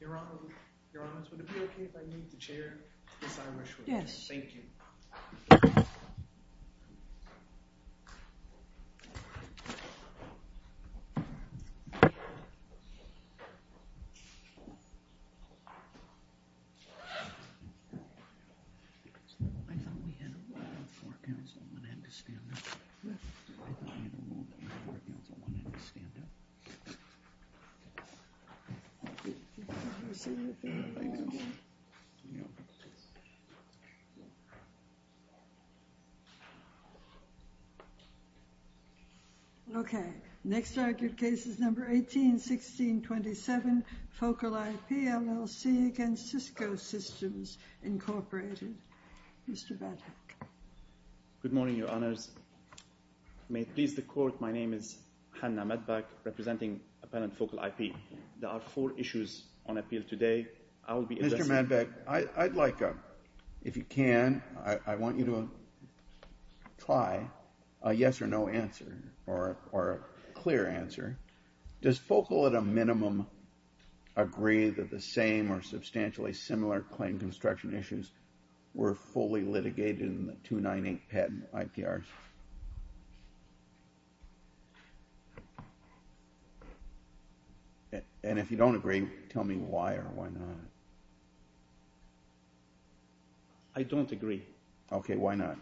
Your Honor, Your Honor, would it be okay if I meet the Chair, Ms. Irishwood? Yes. Thank you. Okay, next argued case is number 18-16-27, Focal IP, LLC against Cisco Systems, Incorporated. Mr. Badak. Good morning, Your Honors. May it please the Court, my name is Hannah Madback, representing Appellant Focal IP. There are four issues on appeal today. Mr. Madback, I'd like, if you can, I want you to try a yes or no answer, or a clear answer. Does Focal, at a minimum, agree that the same or substantially similar claim construction issues were fully litigated in the 298 patent IPR? And if you don't agree, tell me why or why not. I don't agree. Okay, why not?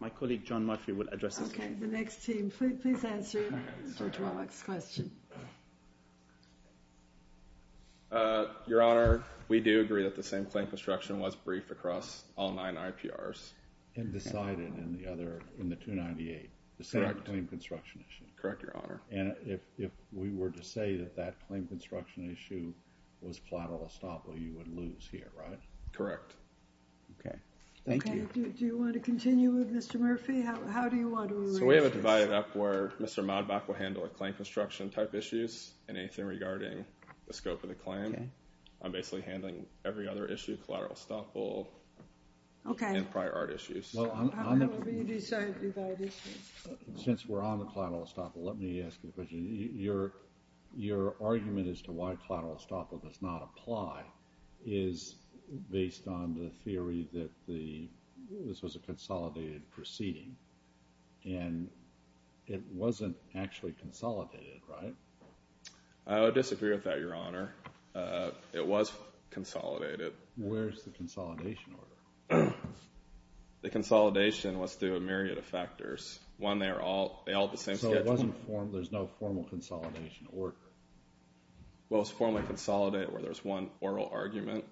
My colleague John Murphy will address this. Okay, the next team, please answer Judge Wallach's question. Your Honor, we do agree that the same claim construction was briefed across all nine IPRs. And decided in the other, in the 298, the same claim construction issue. Correct, Your Honor. And if we were to say that that claim construction issue was collateral estoppel, you would lose here, right? Correct. Okay, thank you. Okay, do you want to continue with Mr. Murphy? How do you want to arrange this? So we have it divided up where Mr. Madback will handle the claim construction type issues and anything regarding the scope of the claim. Okay. I'm basically handling every other issue, collateral estoppel and prior art issues. However you decide to divide issues. Since we're on the collateral estoppel, let me ask you a question. Your argument as to why collateral estoppel does not apply is based on the theory that this was a consolidated proceeding. And it wasn't actually consolidated, right? I would disagree with that, Your Honor. It was consolidated. Where's the consolidation order? The consolidation was through a myriad of factors. One, they all have the same schedule. So there's no formal consolidation order? Well, it was formally consolidated where there's one oral argument.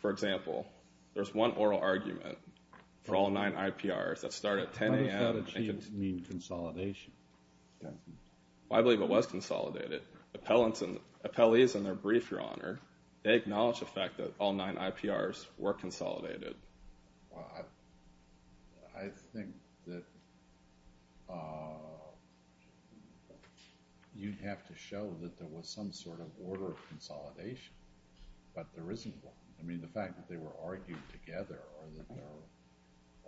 For example, there's one oral argument for all nine IPRs that start at 10 a.m. How does that mean consolidation? Well, I believe it was consolidated. Appellees in their brief, Your Honor, they acknowledge the fact that all nine IPRs were consolidated. Well, I think that you'd have to show that there was some sort of order of consolidation. But there isn't one. I mean the fact that they were argued together or that there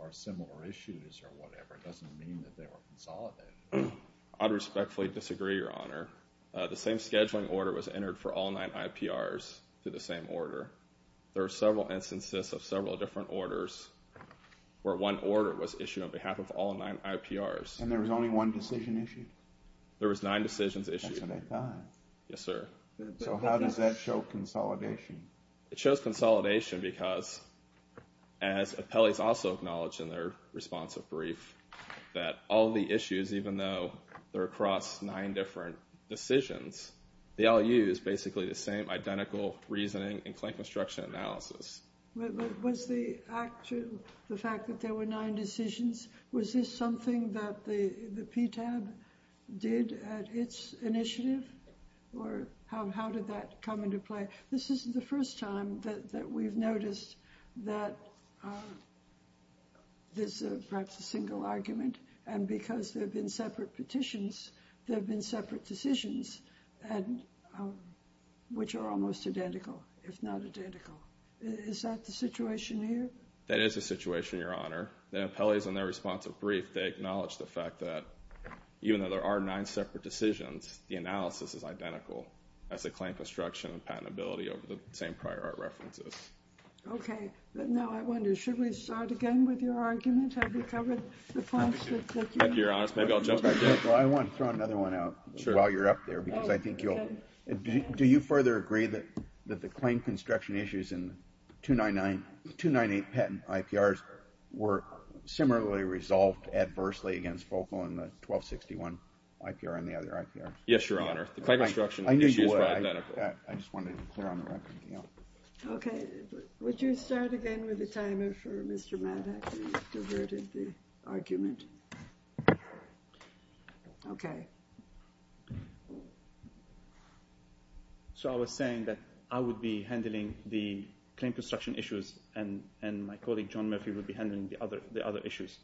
are similar issues or whatever doesn't mean that they were consolidated. I would respectfully disagree, Your Honor. The same scheduling order was entered for all nine IPRs through the same order. There are several instances of several different orders where one order was issued on behalf of all nine IPRs. And there was only one decision issued? There was nine decisions issued. That's what I thought. Yes, sir. So how does that show consolidation? It shows consolidation because, as appellees also acknowledge in their responsive brief, that all the issues, even though they're across nine different decisions, they all use basically the same identical reasoning and claim construction analysis. But was the fact that there were nine decisions, was this something that the PTAB did at its initiative? Or how did that come into play? This isn't the first time that we've noticed that there's perhaps a single argument. And because there have been separate petitions, there have been separate decisions, which are almost identical, if not identical. Is that the situation here? That is the situation, Your Honor. The appellees in their responsive brief, they acknowledge the fact that even though there are nine separate decisions, the analysis is identical as the claim construction and patentability of the same prior art references. Okay. Now, I wonder, should we start again with your argument? Have we covered the points that you made? If you're honest, maybe I'll jump in. Well, I want to throw another one out while you're up there because I think you'll – do you further agree that the claim construction issues in 298 patent IPRs were similarly resolved adversely against FOCAL in the 1261 IPR and the other IPRs? Yes, Your Honor. The claim construction issues were identical. I knew you would. I just wanted to clear on the record. Okay. Would you start again with the timer for Mr. Mattock who diverted the argument? Okay. So I was saying that I would be handling the claim construction issues and my colleague John Murphy would be handling the other issues.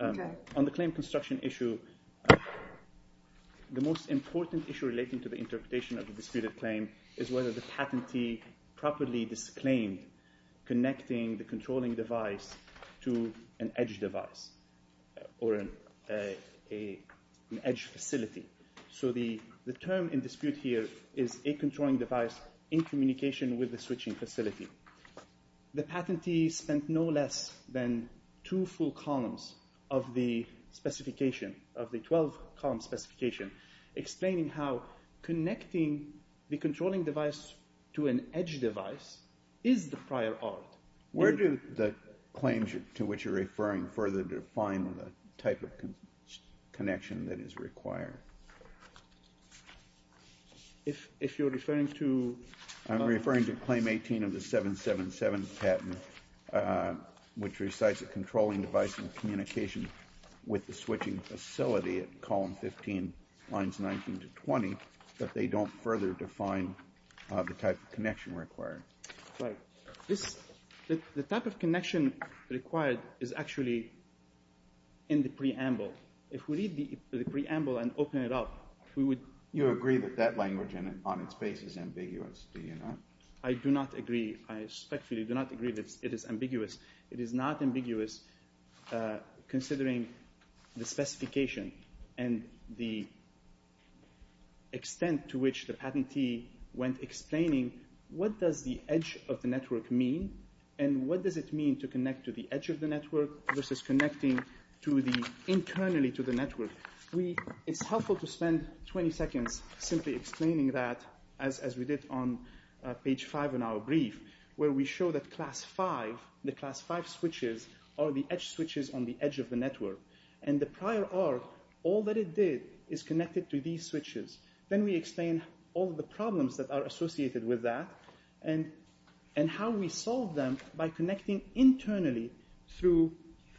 Okay. On the claim construction issue, the most important issue relating to the interpretation of the disputed claim is whether the patentee properly disclaimed connecting the controlling device to an edge device or an edge facility. So the term in dispute here is a controlling device in communication with the switching facility. The patentee spent no less than two full columns of the specification, of the 12-column specification, explaining how connecting the controlling device to an edge device is the prior art. Where do the claims to which you're referring further define the type of connection that is required? If you're referring to – I'm referring to claim 18 of the 777 patent, which recites a controlling device in communication with the switching facility at column 15, lines 19 to 20, but they don't further define the type of connection required. Right. The type of connection required is actually in the preamble. If we read the preamble and open it up, we would – You agree that that language on its base is ambiguous, do you not? I do not agree. I respectfully do not agree that it is ambiguous. It is not ambiguous considering the specification and the extent to which the patentee went explaining what does the edge of the network mean and what does it mean to connect to the edge of the network versus connecting internally to the network. It's helpful to spend 20 seconds simply explaining that as we did on page 5 in our brief, where we show that class 5, the class 5 switches are the edge switches on the edge of the network. And the prior art, all that it did is connect it to these switches. Then we explain all the problems that are associated with that and how we solve them by connecting internally through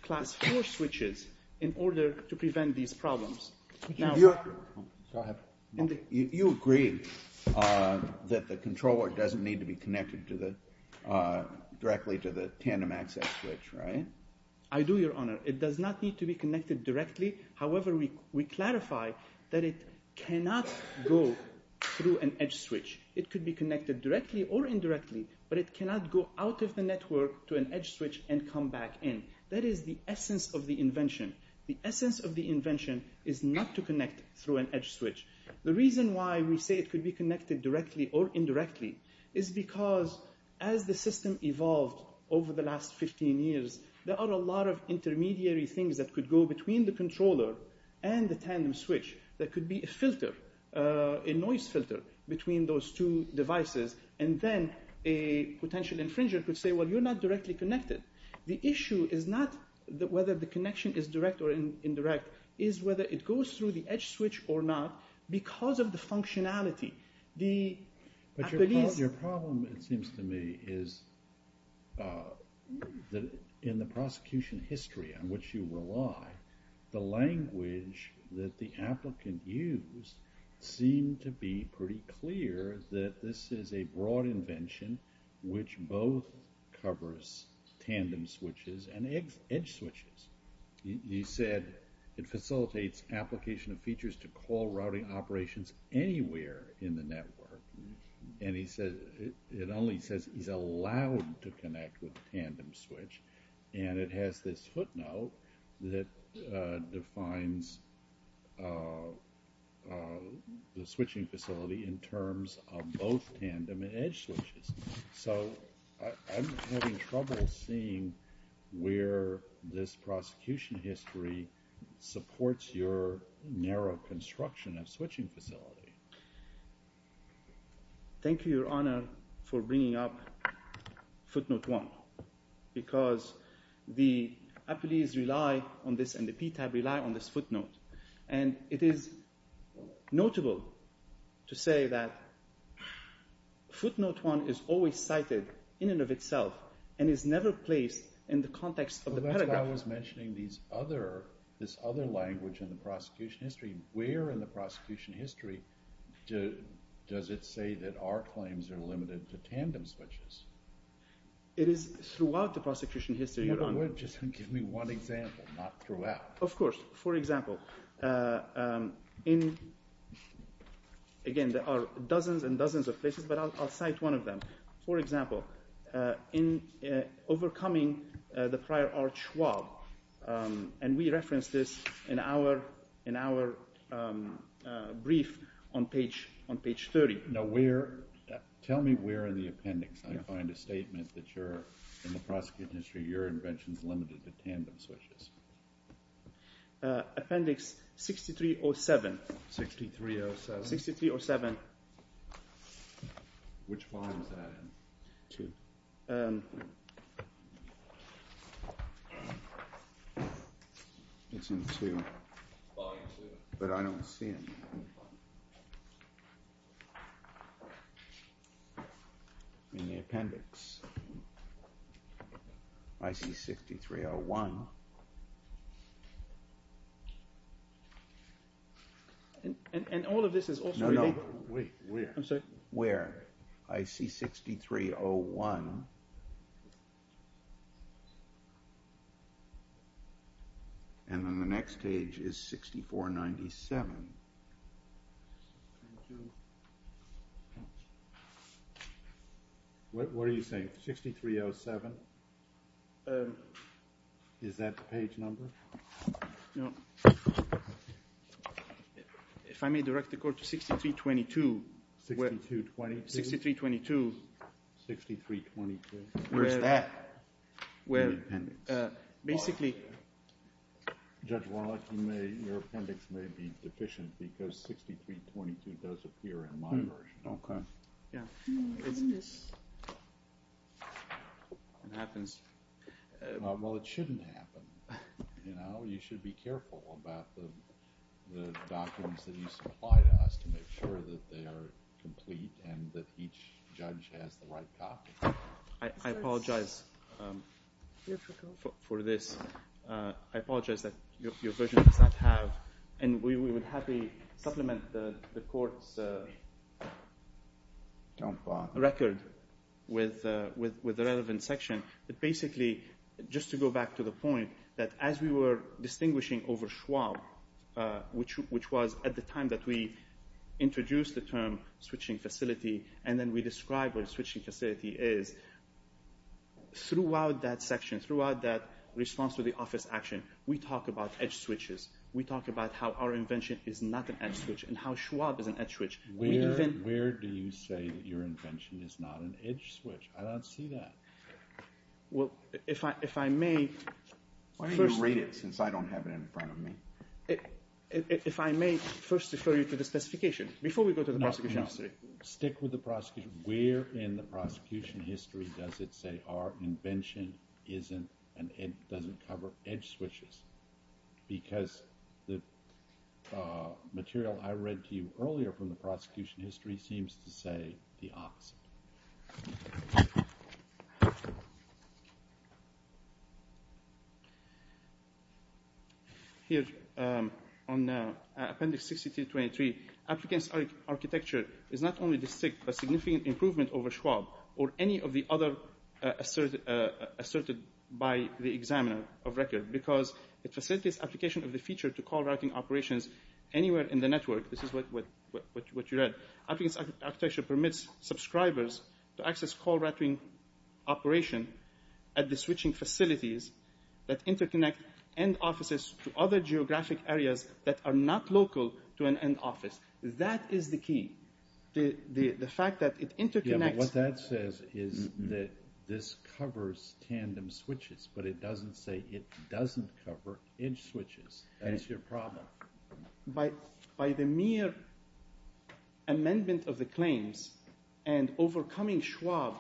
class 4 switches in order to prevent these problems. You agree that the controller doesn't need to be connected directly to the tandem access switch, right? I do, Your Honor. It does not need to be connected directly. However, we clarify that it cannot go through an edge switch. It could be connected directly or indirectly, but it cannot go out of the network to an edge switch and come back in. That is the essence of the invention. The essence of the invention is not to connect through an edge switch. The reason why we say it could be connected directly or indirectly is because as the system evolved over the last 15 years, there are a lot of intermediary things that could go between the controller and the tandem switch. There could be a filter, a noise filter between those two devices, and then a potential infringer could say, well, you're not directly connected. The issue is not whether the connection is direct or indirect. It is whether it goes through the edge switch or not because of the functionality. Your problem, it seems to me, is that in the prosecution history on which you rely, the language that the applicant used seemed to be pretty clear that this is a broad invention which both covers tandem switches and edge switches. He said it facilitates application of features to call routing operations anywhere in the network, and he said it only says he's allowed to connect with a tandem switch, and it has this footnote that defines the switching facility in terms of both tandem and edge switches. So I'm having trouble seeing where this prosecution history supports your narrow construction of switching facility. Thank you, Your Honor, for bringing up footnote one because the appellees rely on this and the PTAB rely on this footnote, and it is notable to say that footnote one is always cited in and of itself and is never placed in the context of the paragraph. That's why I was mentioning this other language in the prosecution history. Where in the prosecution history does it say that our claims are limited to tandem switches? It is throughout the prosecution history, Your Honor. Just give me one example, not throughout. Of course. For example, again, there are dozens and dozens of places, but I'll cite one of them. For example, in overcoming the prior arch swab, and we referenced this in our brief on page 30. Now where – tell me where in the appendix I find a statement that you're – in the prosecution history, your invention is limited to tandem switches. Appendix 6307. 6307. 6307. Which volume is that in? Two. It's in two. Volume two. But I don't see it in the appendix. IC 6301. And all of this is also – I'm sorry. Where? IC 6301. And then the next page is 6497. What are you saying? 6307? Is that the page number? No. If I may direct the court to 6322. 6322? 6322. 6322. Where is that in the appendix? Well, basically – Judge Wallach, your appendix may be deficient because 6322 does appear in my version. Okay. Yeah. It happens. Well, it shouldn't happen. You know, you should be careful about the documents that you supply to us to make sure that they are complete and that each judge has the right copy. I apologize for this. I apologize that your version does not have – and we would happily supplement the court's record with the relevant section. But basically, just to go back to the point, that as we were distinguishing over Schwab, which was at the time that we introduced the term switching facility and then we described what a switching facility is, throughout that section, throughout that response to the office action, we talk about edge switches. We talk about how our invention is not an edge switch and how Schwab is an edge switch. Where do you say that your invention is not an edge switch? I don't see that. Well, if I may – Why don't you read it since I don't have it in front of me? If I may first refer you to the specification. Before we go to the prosecution history. Stick with the prosecution. Where in the prosecution history does it say our invention doesn't cover edge switches? Because the material I read to you earlier from the prosecution history seems to say the opposite. Here, on appendix 6223, applicant's architecture is not only distinct but significant improvement over Schwab or any of the other asserted by the examiner of record because it facilitates application of the feature to call routing operations anywhere in the network. This is what you read. Applicant's architecture permits subscribers to access call routing operation at the switching facilities that interconnect end offices to other geographic areas that are not local to an end office. That is the key. The fact that it interconnects – Yeah, but what that says is that this covers tandem switches, but it doesn't say it doesn't cover edge switches. That is your problem. By the mere amendment of the claims and overcoming Schwab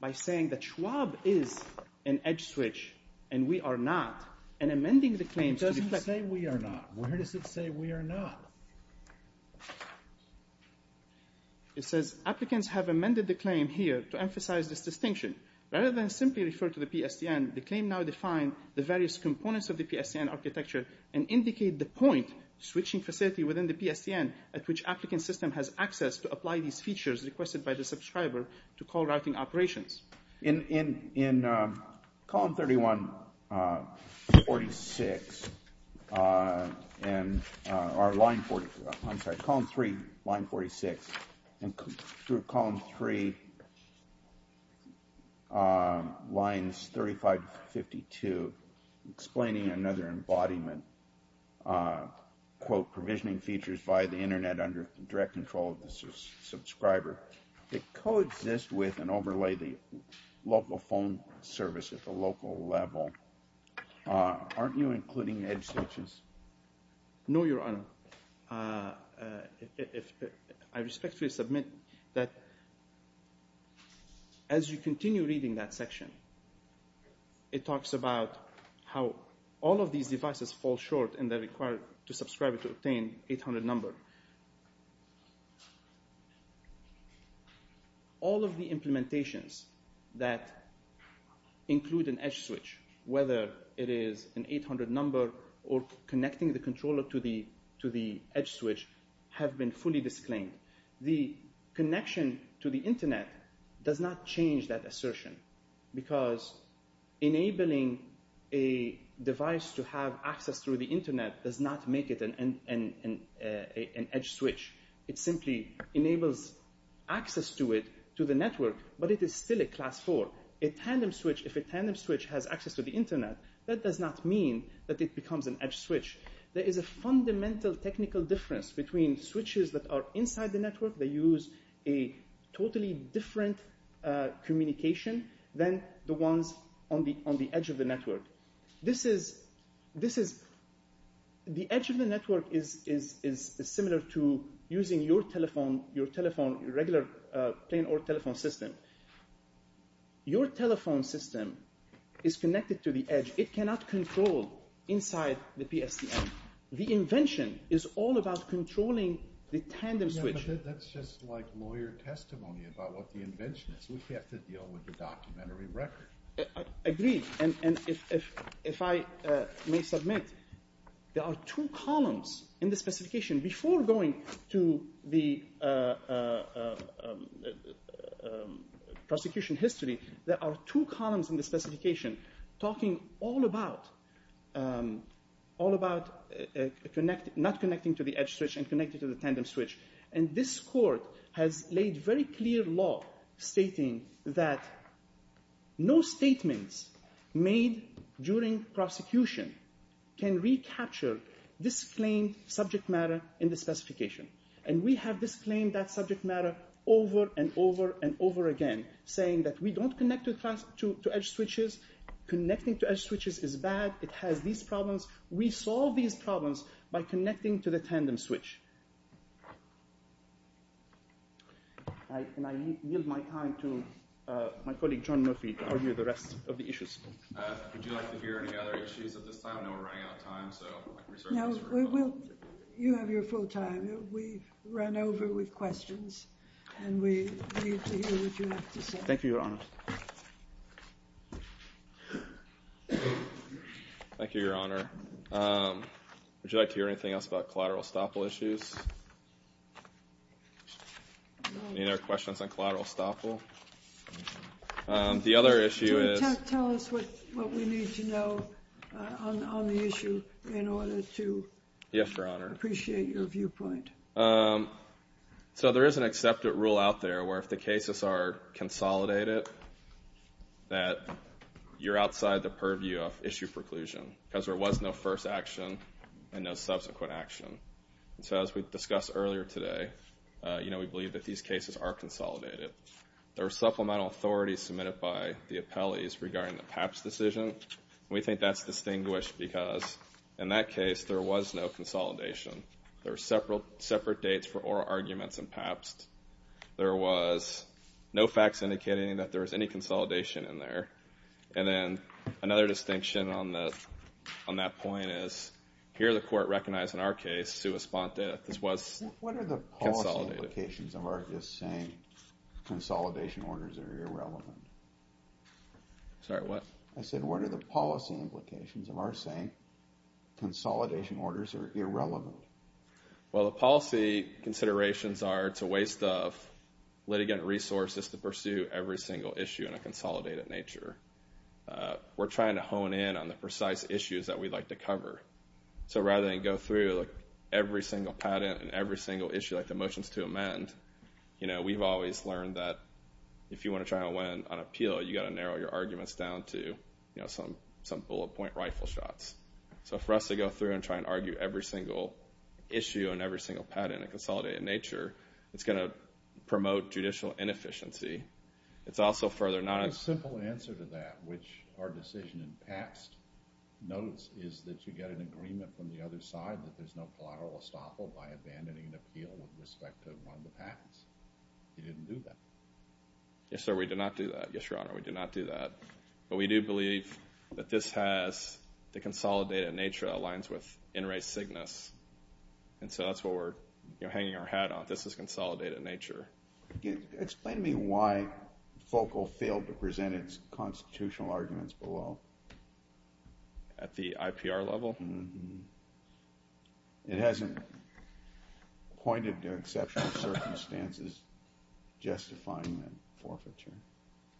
by saying that Schwab is an edge switch and we are not and amending the claims to reflect – It doesn't say we are not. Where does it say we are not? It says applicants have amended the claim here to emphasize this distinction. Rather than simply refer to the PSTN, the claim now defines the various components of the PSTN architecture and indicates the point switching facility within the PSTN at which applicant system has access to apply these features requested by the subscriber to call routing operations. In column 3, line 46, and through column 3, lines 35 to 52, explaining another embodiment, quote, provisioning features by the internet under direct control of the subscriber, that coexist with and overlay the local phone service at the local level. Aren't you including edge switches? No, Your Honor. I respectfully submit that as you continue reading that section, it talks about how all of these devices fall short and they're required to subscribe to obtain 800 number. All of the implementations that include an edge switch, whether it is an 800 number or connecting the controller to the edge switch, have been fully disclaimed. The connection to the internet does not change that assertion because enabling a device to have access through the internet does not make it an edge switch. It simply enables access to it, to the network, but it is still a class 4. A tandem switch, if a tandem switch has access to the internet, that does not mean that it becomes an edge switch. There is a fundamental technical difference between switches that are inside the network than the ones on the edge of the network. The edge of the network is similar to using your regular plain old telephone system. Your telephone system is connected to the edge. It cannot control inside the PSTN. The invention is all about controlling the tandem switch. That's just like lawyer testimony about what the invention is. We have to deal with the documentary record. I agree, and if I may submit, there are two columns in the specification. Before going to the prosecution history, there are two columns in the specification talking all about not connecting to the edge switch and connecting to the tandem switch. And this court has laid very clear law stating that no statements made during prosecution can recapture this claimed subject matter in the specification. And we have disclaimed that subject matter over and over and over again saying that we don't connect to edge switches, connecting to edge switches is bad, it has these problems. We solve these problems by connecting to the tandem switch. And I yield my time to my colleague John Murphy to argue the rest of the issues. Would you like to hear any other issues at this time? I know we're running out of time. No, you have your full time. We've run over with questions and we need to hear what you have to say. Thank you, Your Honor. Thank you, Your Honor. Would you like to hear anything else about collateral estoppel issues? Any other questions on collateral estoppel? The other issue is... Tell us what we need to know on the issue in order to appreciate your viewpoint. So there is an accepted rule out there where if the cases are consolidated, that you're outside the purview of issue preclusion because there was no first action and no subsequent action. So as we discussed earlier today, we believe that these cases are consolidated. There are supplemental authorities submitted by the appellees regarding the PAPS decision. We think that's distinguished because in that case, there was no consolidation. There were separate dates for oral arguments in PAPS. There was no facts indicating that there was any consolidation in there. And then another distinction on that point is here the court recognized in our case, sui sponte, this was consolidated. What are the policy implications of our just saying consolidation orders are irrelevant? Sorry, what? I said, what are the policy implications of our saying consolidation orders are irrelevant? Well, the policy considerations are it's a waste of litigant resources to pursue every single issue in a consolidated nature. We're trying to hone in on the precise issues that we'd like to cover. So rather than go through every single patent and every single issue like the motions to amend, we've always learned that if you want to try to win on appeal, you've got to narrow your arguments down to some bullet point rifle shots. So for us to go through and try and argue every single issue and every single patent in a consolidated nature, it's going to promote judicial inefficiency. It's also further not... The simple answer to that, which our decision in past notes, is that you get an agreement from the other side that there's no collateral estoppel by abandoning an appeal with respect to one of the patents. You didn't do that. Yes, sir, we did not do that. Yes, Your Honor, we did not do that. But we do believe that this has the consolidated nature that aligns with in re signus. And so that's what we're hanging our hat on. This is consolidated nature. Explain to me why FOCAL failed to present its constitutional arguments below. At the IPR level? Mm-hmm. It hasn't pointed to exceptional circumstances justifying that forfeiture.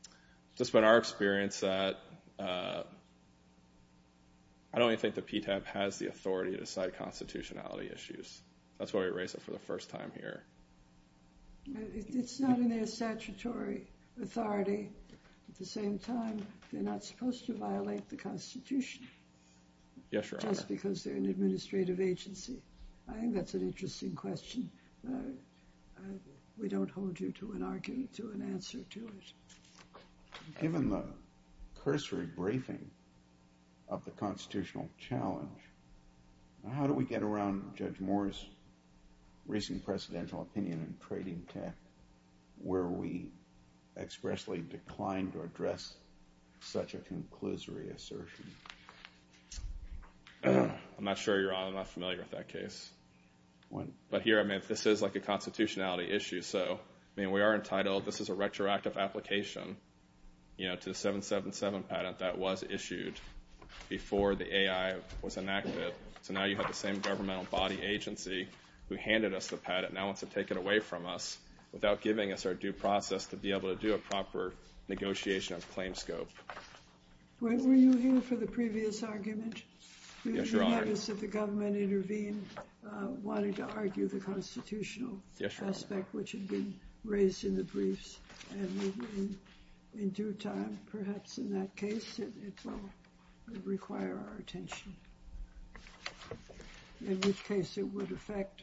It's just been our experience that... I don't even think the PTAB has the authority to cite constitutionality issues. That's why we raise it for the first time here. It's not in their statutory authority. At the same time, they're not supposed to violate the Constitution. Yes, Your Honor. Just because they're an administrative agency. I think that's an interesting question. We don't hold you to an answer to it. Given the cursory briefing of the constitutional challenge, how do we get around Judge Moore's recent presidential opinion in trading tech where we expressly declined to address such a conclusory assertion? I'm not sure, Your Honor. I'm not familiar with that case. But here, this is a constitutionality issue. We are entitled, this is a retroactive application to the 777 patent that was issued before the AI was enacted. So now you have the same governmental body agency who handed us the patent and now wants to take it away from us without giving us our due process to be able to do a proper negotiation of claim scope. Were you here for the previous argument? Yes, Your Honor. Did you notice that the government intervened wanting to argue the constitutional aspect which had been raised in the briefs? And in due time, perhaps in that case, it will require our attention. In which case it would affect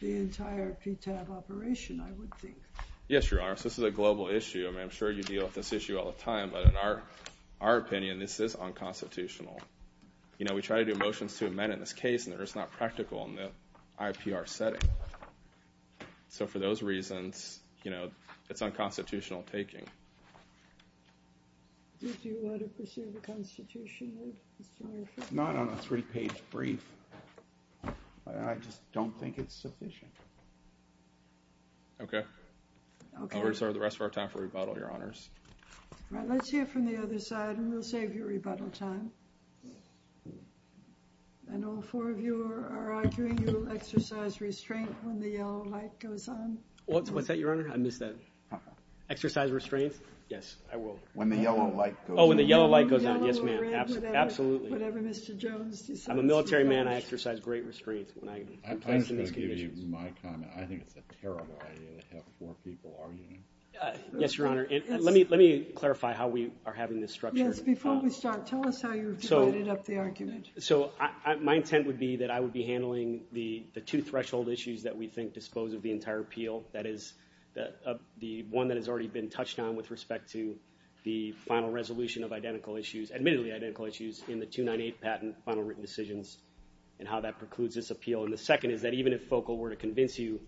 the entire PTAB operation, I would think. Yes, Your Honor. This is a global issue. I'm sure you deal with this issue all the time. But in our opinion, this is unconstitutional. You know, we try to do motions to amend in this case, and they're just not practical in the IPR setting. So for those reasons, you know, it's unconstitutional taking. Did you want to pursue the constitutionally, Mr. Murphy? Not on a three-page brief. I just don't think it's sufficient. Okay. We'll reserve the rest of our time for rebuttal, Your Honors. All right, let's hear from the other side, and we'll save you rebuttal time. I know four of you are arguing you will exercise restraint when the yellow light goes on. What's that, Your Honor? I missed that. Exercise restraint? Yes, I will. When the yellow light goes on. Oh, when the yellow light goes on. Yes, ma'am. Absolutely. Whatever Mr. Jones decides to do. I'm a military man. I exercise great restraint when I'm placed in these conditions. I'm just going to give you my comment. I think it's a terrible idea to have four people arguing. Yes, Your Honor. Let me clarify how we are having this structure. Yes, before we start, tell us how you've divided up the argument. So my intent would be that I would be handling the two threshold issues that we think dispose of the entire appeal. That is, the one that has already been touched on with respect to the final resolution of identical issues, admittedly identical issues, in the 298 patent, final written decisions, and how that precludes this appeal. And the second is that even if FOCAL were to convince you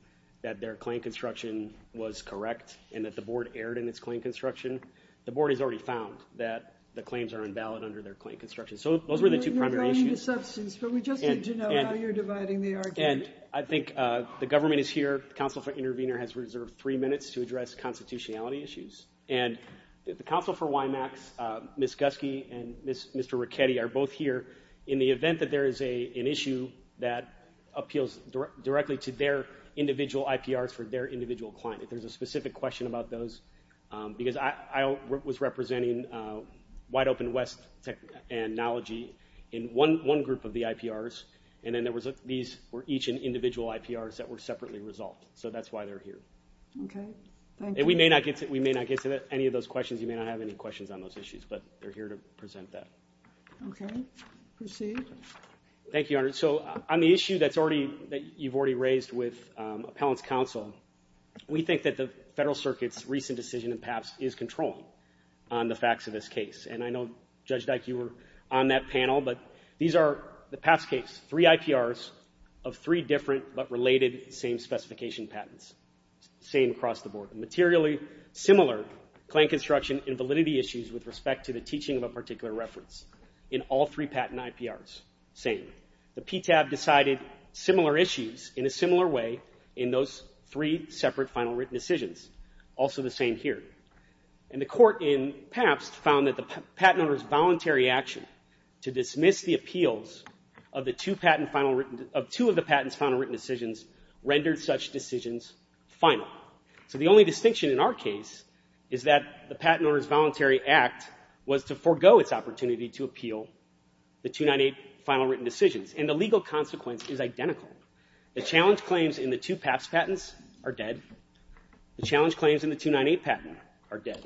that their claim construction was correct and that the Board erred in its claim construction, the Board has already found that the claims are invalid under their claim construction. So those were the two primary issues. You're going into substance, but we just need to know how you're dividing the argument. And I think the government is here. The Council for Intervenor has reserved three minutes to address constitutionality issues. And the Council for WIMACS, Ms. Guske and Mr. Ricchetti are both here in the event that there is an issue that appeals directly to their individual IPRs for their individual client. If there's a specific question about those, because I was representing Wide Open West Technology in one group of the IPRs, and then these were each individual IPRs that were separately resolved. So that's why they're here. Okay. Thank you. We may not get to any of those questions. You may not have any questions on those issues, but they're here to present that. Okay. Proceed. Thank you, Your Honor. So on the issue that you've already raised with Appellant's Counsel, we think that the Federal Circuit's recent decision in PAPS is controlling on the facts of this case. And I know, Judge Dyke, you were on that panel, but these are the PAPS case, three IPRs of three different but related same-specification patents, same across the board. Materially similar claim construction and validity issues with respect to the teaching of a particular reference in all three patent IPRs, same. The PTAB decided similar issues in a similar way in those three separate final written decisions. Also the same here. And the court in PAPS found that the patent owner's voluntary action to dismiss the appeals of two of the patent's final written decisions rendered such decisions final. So the only distinction in our case is that the patent owner's voluntary act was to forego its opportunity to appeal the 298 final written decisions. And the legal consequence is identical. The challenge claims in the two PAPS patents are dead. The challenge claims in the 298 patent are dead.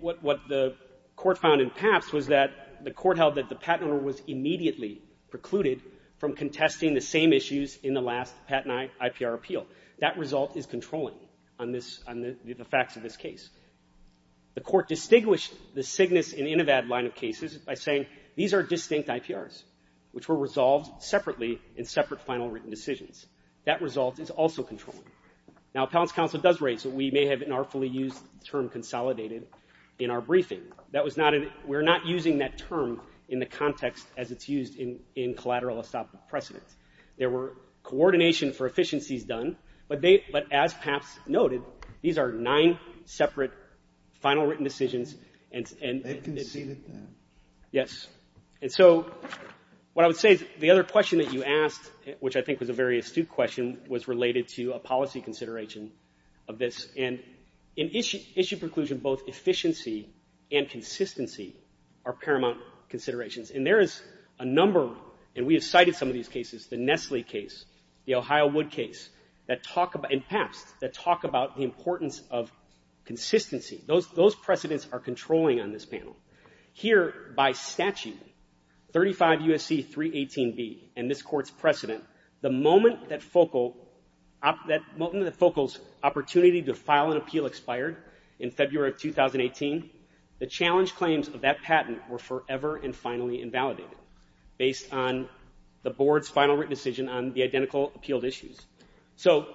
What the court found in PAPS was that the court held that the patent owner was immediately precluded from contesting the same issues in the last patent IPR appeal. That result is controlling on the facts of this case. The court distinguished the Cygnus and Inovad line of cases by saying these are distinct IPRs, which were resolved separately in separate final written decisions. That result is also controlling. Now, appellant's counsel does raise that we may have inartfully used the term consolidated in our briefing. We're not using that term in the context as it's used in collateral estoppel precedent. There were coordination for efficiencies done. But as PAPS noted, these are nine separate final written decisions. They conceded them. Yes. And so what I would say is the other question that you asked, which I think was a very astute question, was related to a policy consideration of this. And in issue preclusion, both efficiency and consistency are paramount considerations. And there is a number, and we have cited some of these cases, the Nestle case, the Ohio Wood case, and PAPS, that talk about the importance of consistency. Those precedents are controlling on this panel. Here, by statute, 35 U.S.C. 318B and this court's precedent, the moment that Focal's opportunity to file an appeal expired in February of 2018, the challenge claims of that patent were forever and finally invalidated, based on the board's final written decision on the identical appealed issues. So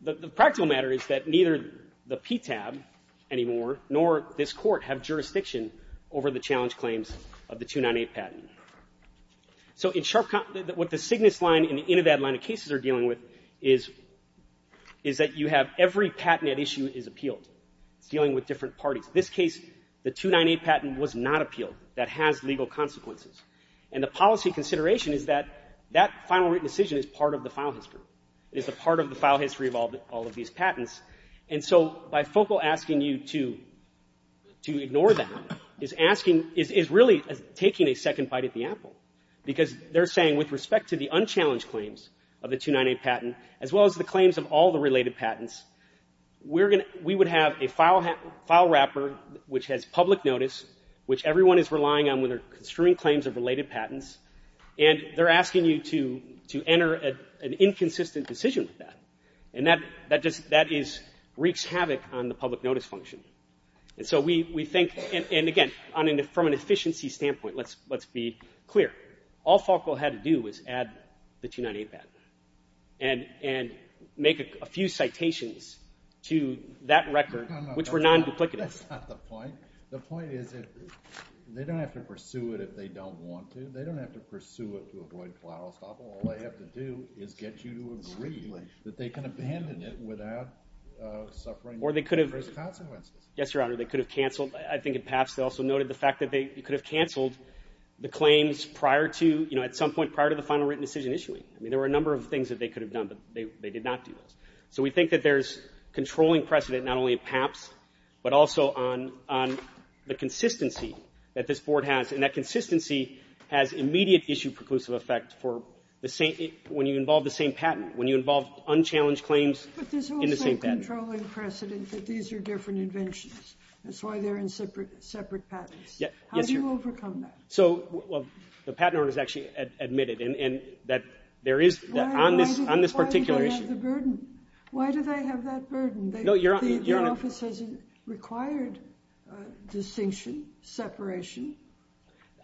the practical matter is that neither the PTAB anymore nor this court have jurisdiction over the challenge claims of the 298 patent. So what the Cygnus line and the Inovad line of cases are dealing with is that you have every patent at issue is appealed. It's dealing with different parties. This case, the 298 patent was not appealed. That has legal consequences. And the policy consideration is that that final written decision is part of the file history. It is a part of the file history of all of these patents. And so by Focal asking you to ignore that, is asking, is really taking a second bite at the apple, because they're saying with respect to the unchallenged claims of the 298 patent, as well as the claims of all the related patents, we would have a file wrapper which has public notice, which everyone is relying on when they're construing claims of related patents, and they're asking you to enter an inconsistent decision with that. And that just wreaks havoc on the public notice function. And so we think, and again, from an efficiency standpoint, let's be clear. All Focal had to do was add the 298 patent and make a few citations to that record which were non-duplicative. That's not the point. The point is that they don't have to pursue it if they don't want to. They don't have to pursue it to avoid collateral estoppel. All they have to do is get you to agree that they can abandon it without suffering adverse consequences. Yes, Your Honor. They could have canceled. I think at PAPS they also noted the fact that they could have canceled the claims prior to, at some point prior to the final written decision issuing. I mean, there were a number of things that they could have done, but they did not do those. So we think that there's controlling precedent not only at PAPS, but also on the consistency that this Board has, and that consistency has immediate issue preclusive effect when you involve the same patent, when you involve unchallenged claims in the same patent. But there's also a controlling precedent that these are different inventions. That's why they're in separate patents. Yes, Your Honor. How do you overcome that? So the Patent Office actually admitted that there is, on this particular issue. Why do they have the burden? Why do they have that burden? No, Your Honor. Your Office hasn't required distinction, separation.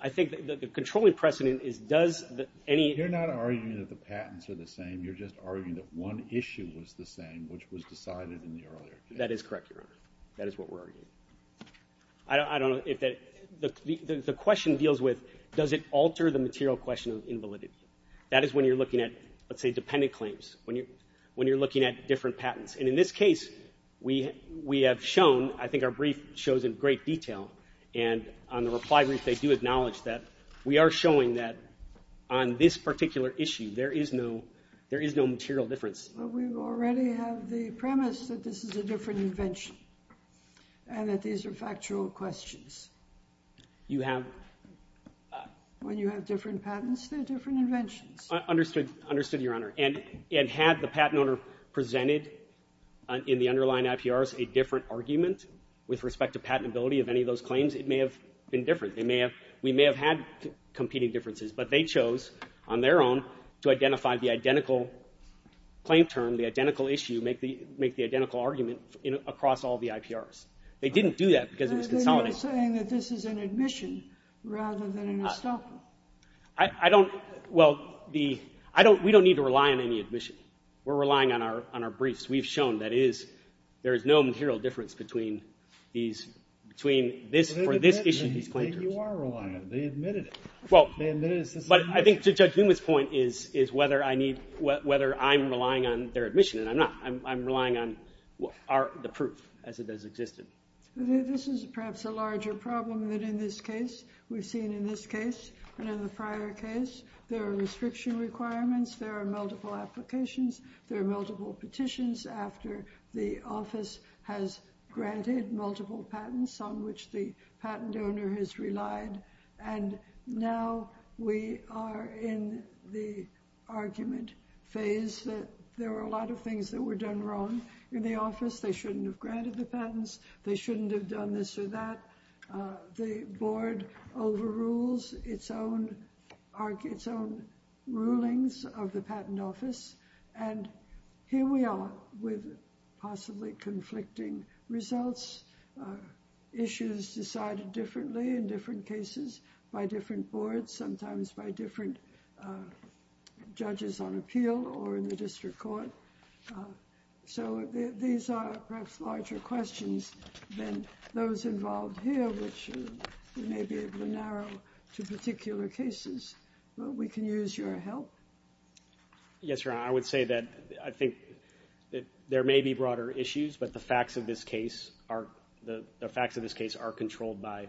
I think that the controlling precedent is does any— And you're just arguing that one issue was the same, which was decided in the earlier case. That is correct, Your Honor. That is what we're arguing. I don't know if that—the question deals with does it alter the material question of invalidity. That is when you're looking at, let's say, dependent claims, when you're looking at different patents. And in this case, we have shown—I think our brief shows in great detail, and on the reply brief they do acknowledge that we are showing that on this particular issue, there is no material difference. But we already have the premise that this is a different invention and that these are factual questions. You have— When you have different patents, they're different inventions. Understood, Your Honor. And had the patent owner presented in the underlying IPRs a different argument with respect to patentability of any of those claims, it may have been different. They may have—we may have had competing differences, but they chose on their own to identify the identical claim term, the identical issue, make the identical argument across all the IPRs. They didn't do that because it was consolidated. Then you're saying that this is an admission rather than an estoppel. I don't—well, the—we don't need to rely on any admission. We're relying on our briefs. We've shown that it is—there is no material difference between these— between this—for this issue, these claim terms. You are relying on it. They admitted it. But I think to Judge Newman's point is whether I need—whether I'm relying on their admission, and I'm not. I'm relying on the proof as it has existed. This is perhaps a larger problem than in this case. We've seen in this case and in the prior case there are restriction requirements. There are multiple applications. There are multiple petitions after the office has granted multiple patents on which the patent owner has relied. And now we are in the argument phase that there are a lot of things that were done wrong in the office. They shouldn't have granted the patents. They shouldn't have done this or that. The board overrules its own—its own rulings of the patent office. And here we are with possibly conflicting results. Issues decided differently in different cases by different boards, sometimes by different judges on appeal or in the district court. So these are perhaps larger questions than those involved here, which we may be able to narrow to particular cases. But we can use your help. Yes, Your Honor, I would say that I think there may be broader issues, but the facts of this case are controlled by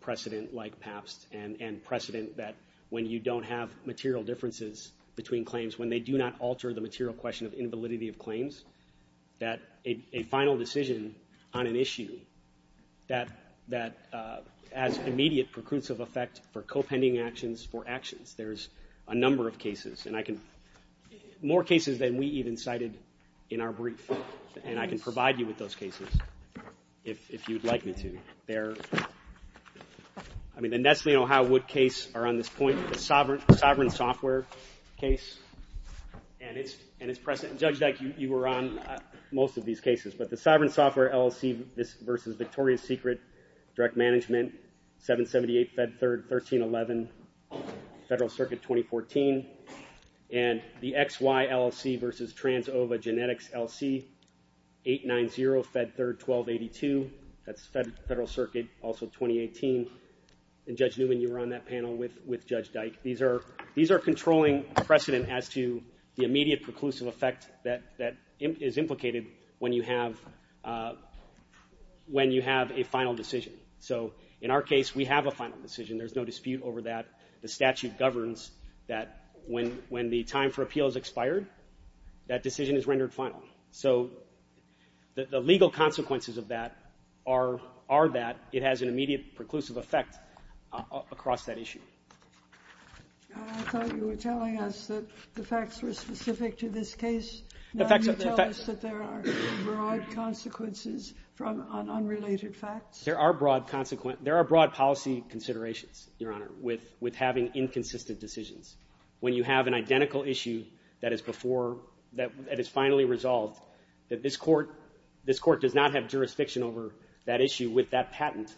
precedent like PAPS and precedent that when you don't have material differences between claims, when they do not alter the material question of invalidity of claims, that a final decision on an issue that has immediate preclusive effect for co-pending actions for actions. There's a number of cases, and I can—more cases than we even cited in our brief, and I can provide you with those cases if you'd like me to. There—I mean, the Nestle and Ohio Wood case are on this point, the Sovereign Software case, and it's precedent. Judge Deck, you were on most of these cases, Direct Management, 778 Fed Third, 1311 Federal Circuit, 2014, and the XY LLC versus TransOva Genetics LC, 890 Fed Third, 1282. That's Federal Circuit, also 2018. And Judge Newman, you were on that panel with Judge Dyke. These are controlling precedent as to the immediate preclusive effect that is implicated when you have a final decision. So in our case, we have a final decision. There's no dispute over that. The statute governs that when the time for appeal has expired, that decision is rendered final. So the legal consequences of that are that it has an immediate preclusive effect across that issue. I thought you were telling us that the facts were specific to this case. Now you tell us that there are broad consequences from unrelated facts. There are broad policy considerations, Your Honor, with having inconsistent decisions. When you have an identical issue that is before — that is finally resolved, that this Court does not have jurisdiction over that issue with that patent,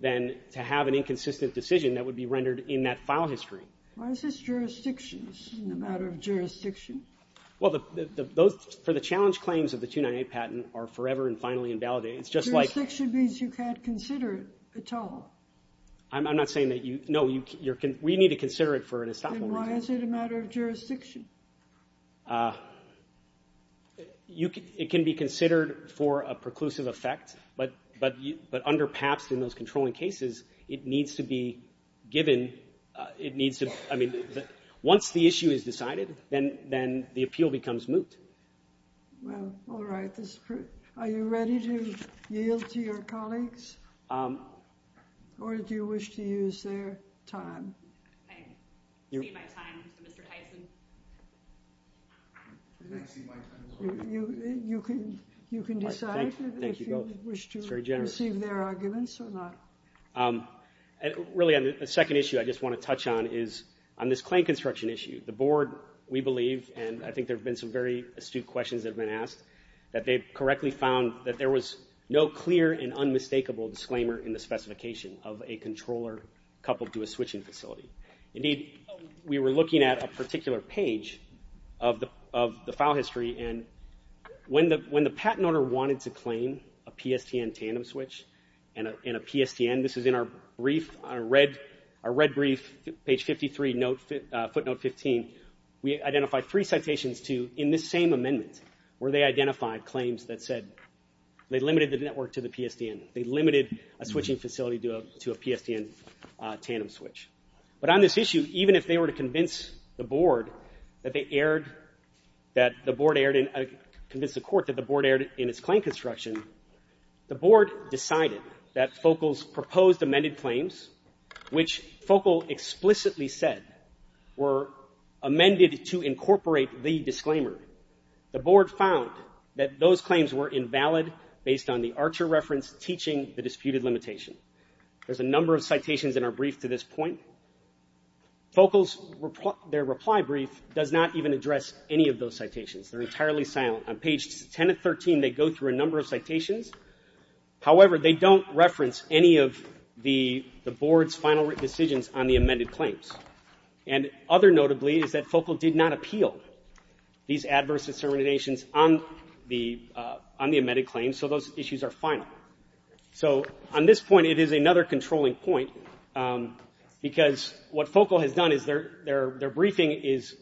then to have an inconsistent decision, that would be rendered in that file history. Why is this jurisdiction? This isn't a matter of jurisdiction. Well, for the challenge claims of the 298 patent are forever and finally invalidated. It's just like — Jurisdiction means you can't consider it at all. I'm not saying that you — no, we need to consider it for an estoppel reason. Then why is it a matter of jurisdiction? It can be considered for a preclusive effect, but under PAPS in those controlling cases, it needs to be given — it needs to — I mean, once the issue is decided, then the appeal becomes moot. Well, all right. Are you ready to yield to your colleagues, or do you wish to use their time? I cede my time to Mr. Tyson. I cede my time. You can decide if you wish to receive their arguments or not. Really, the second issue I just want to touch on is on this claim construction issue. The Board, we believe, and I think there have been some very astute questions that have been asked, that they correctly found that there was no clear and unmistakable disclaimer in the specification of a controller coupled to a switching facility. Indeed, we were looking at a particular page of the file history, and when the patent owner wanted to claim a PSTN tandem switch and a PSTN, this is in our brief, our red brief, page 53, footnote 15. We identified three citations to, in this same amendment, where they identified claims that said they limited the network to the PSTN. They limited a switching facility to a PSTN tandem switch. But on this issue, even if they were to convince the Board that they erred, that the Board erred in, convince the Court that the Board erred in its claim construction, the Board decided that Focal's proposed amended claims, which Focal explicitly said were amended to incorporate the disclaimer, the Board found that those claims were invalid based on the Archer reference teaching the disputed limitation. There's a number of citations in our brief to this point. Focal's, their reply brief does not even address any of those citations. They're entirely silent. On page 10 of 13, they go through a number of citations. However, they don't reference any of the Board's final decisions on the amended claims. And other notably is that Focal did not appeal these adverse determinations on the amended claims, so those issues are final. So on this point, it is another controlling point, because what Focal has done is their briefing is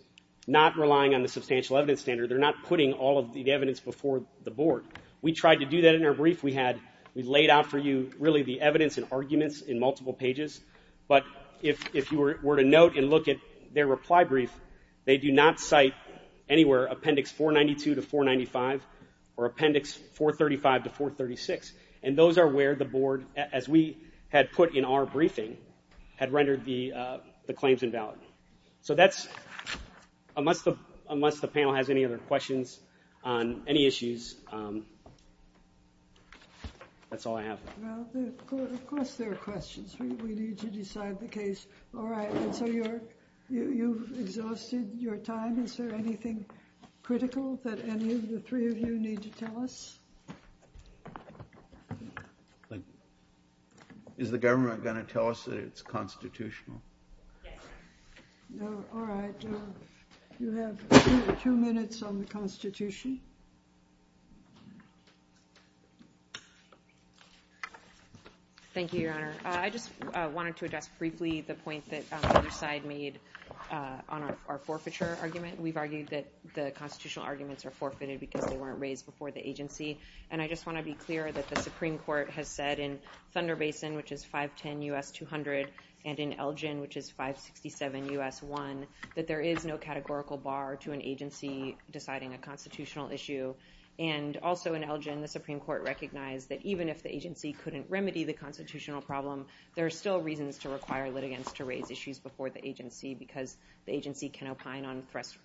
not relying on the substantial evidence standard. They're not putting all of the evidence before the Board. We tried to do that in our brief. We had, we laid out for you really the evidence and arguments in multiple pages. But if you were to note and look at their reply brief, they do not cite anywhere Appendix 492 to 495 or Appendix 435 to 436. And those are where the Board, as we had put in our briefing, had rendered the claims invalid. So that's, unless the panel has any other questions on any issues, that's all I have. Well, of course there are questions. We need to decide the case. All right, and so you've exhausted your time. Is there anything critical that any of the three of you need to tell us? Is the government going to tell us that it's constitutional? Yes. All right, you have two minutes on the Constitution. Thank you, Your Honor. I just wanted to address briefly the point that the other side made on our forfeiture argument. We've argued that the constitutional arguments are forfeited because they weren't raised before the agency. And I just want to be clear that the Supreme Court has said in Thunder Basin, which is 510 U.S. 200, and in Elgin, which is 567 U.S. 1, that there is no categorical bar to an agency deciding a constitutional issue. And also in Elgin, the Supreme Court recognized that even if the agency couldn't remedy the constitutional problem, there are still reasons to require litigants to raise issues before the agency because the agency can opine on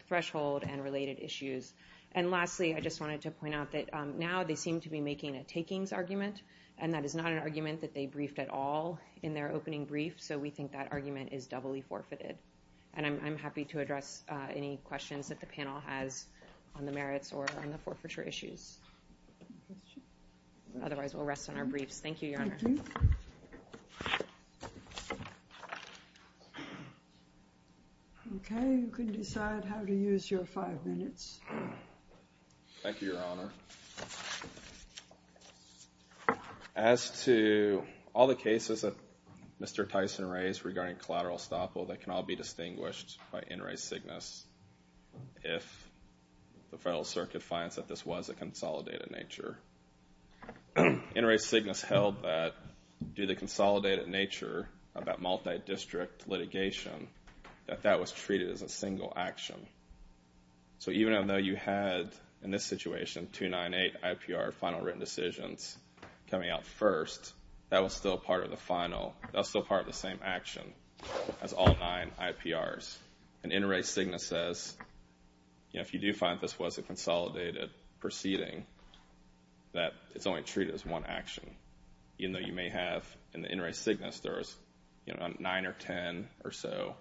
threshold and related issues. And lastly, I just wanted to point out that now they seem to be making a takings argument, and that is not an argument that they briefed at all in their opening brief, so we think that argument is doubly forfeited. And I'm happy to address any questions that the panel has on the merits or on the forfeiture issues. Otherwise, we'll rest on our briefs. Thank you, Your Honor. Thank you. Okay, you can decide how to use your five minutes. Thank you, Your Honor. As to all the cases that Mr. Tyson raised regarding collateral estoppel, they can all be distinguished by In re Signis if the Federal Circuit finds that this was a consolidated nature. In re Signis held that due to the consolidated nature of that multi-district litigation, that that was treated as a single action. So even though you had, in this situation, 298 IPR final written decisions coming out first, that was still part of the final, that's still part of the same action as all nine IPRs. And in re Signis says, if you do find this was a consolidated proceeding, that it's only treated as one action. Even though you may have, in the in re Signis, there's nine or ten or so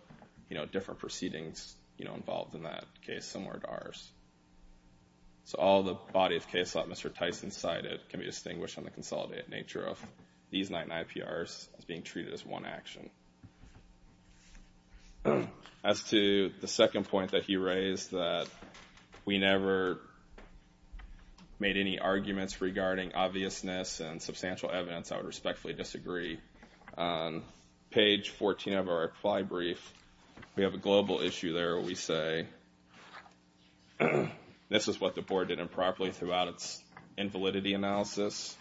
different proceedings involved in that case similar to ours. So all the bodies of cases that Mr. Tyson cited can be distinguished on the consolidated nature of these nine IPRs as being treated as one action. As to the second point that he raised, that we never made any arguments regarding obviousness and substantial evidence, I would respectfully disagree. On page 14 of our reply brief, we have a global issue there where we say, this is what the board did improperly throughout its invalidity analysis.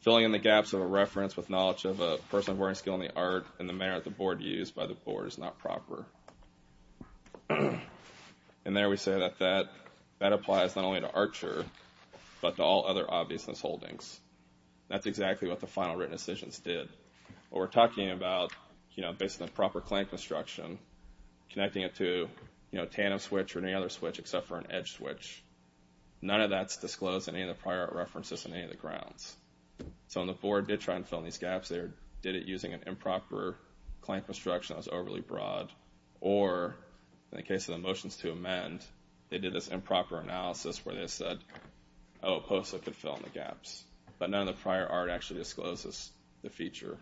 Filling in the gaps of a reference with knowledge of a person of varying skill in the art and the manner that the board used by the board is not proper. And there we say that that applies not only to Archer, but to all other obviousness holdings. That's exactly what the final written decisions did. What we're talking about, you know, based on the proper claim construction, connecting it to, you know, a tandem switch or any other switch except for an edge switch. None of that's disclosed in any of the prior art references on any of the grounds. So when the board did try and fill in these gaps, they did it using an improper claim construction that was overly broad. Or in the case of the motions to amend, they did this improper analysis where they said, oh, POSA could fill in the gaps. But none of the prior art actually discloses the feature.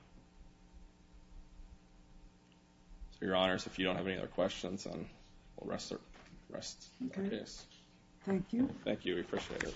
So, Your Honors, if you don't have any other questions, we'll rest our case. Thank you. Thank you. We appreciate it.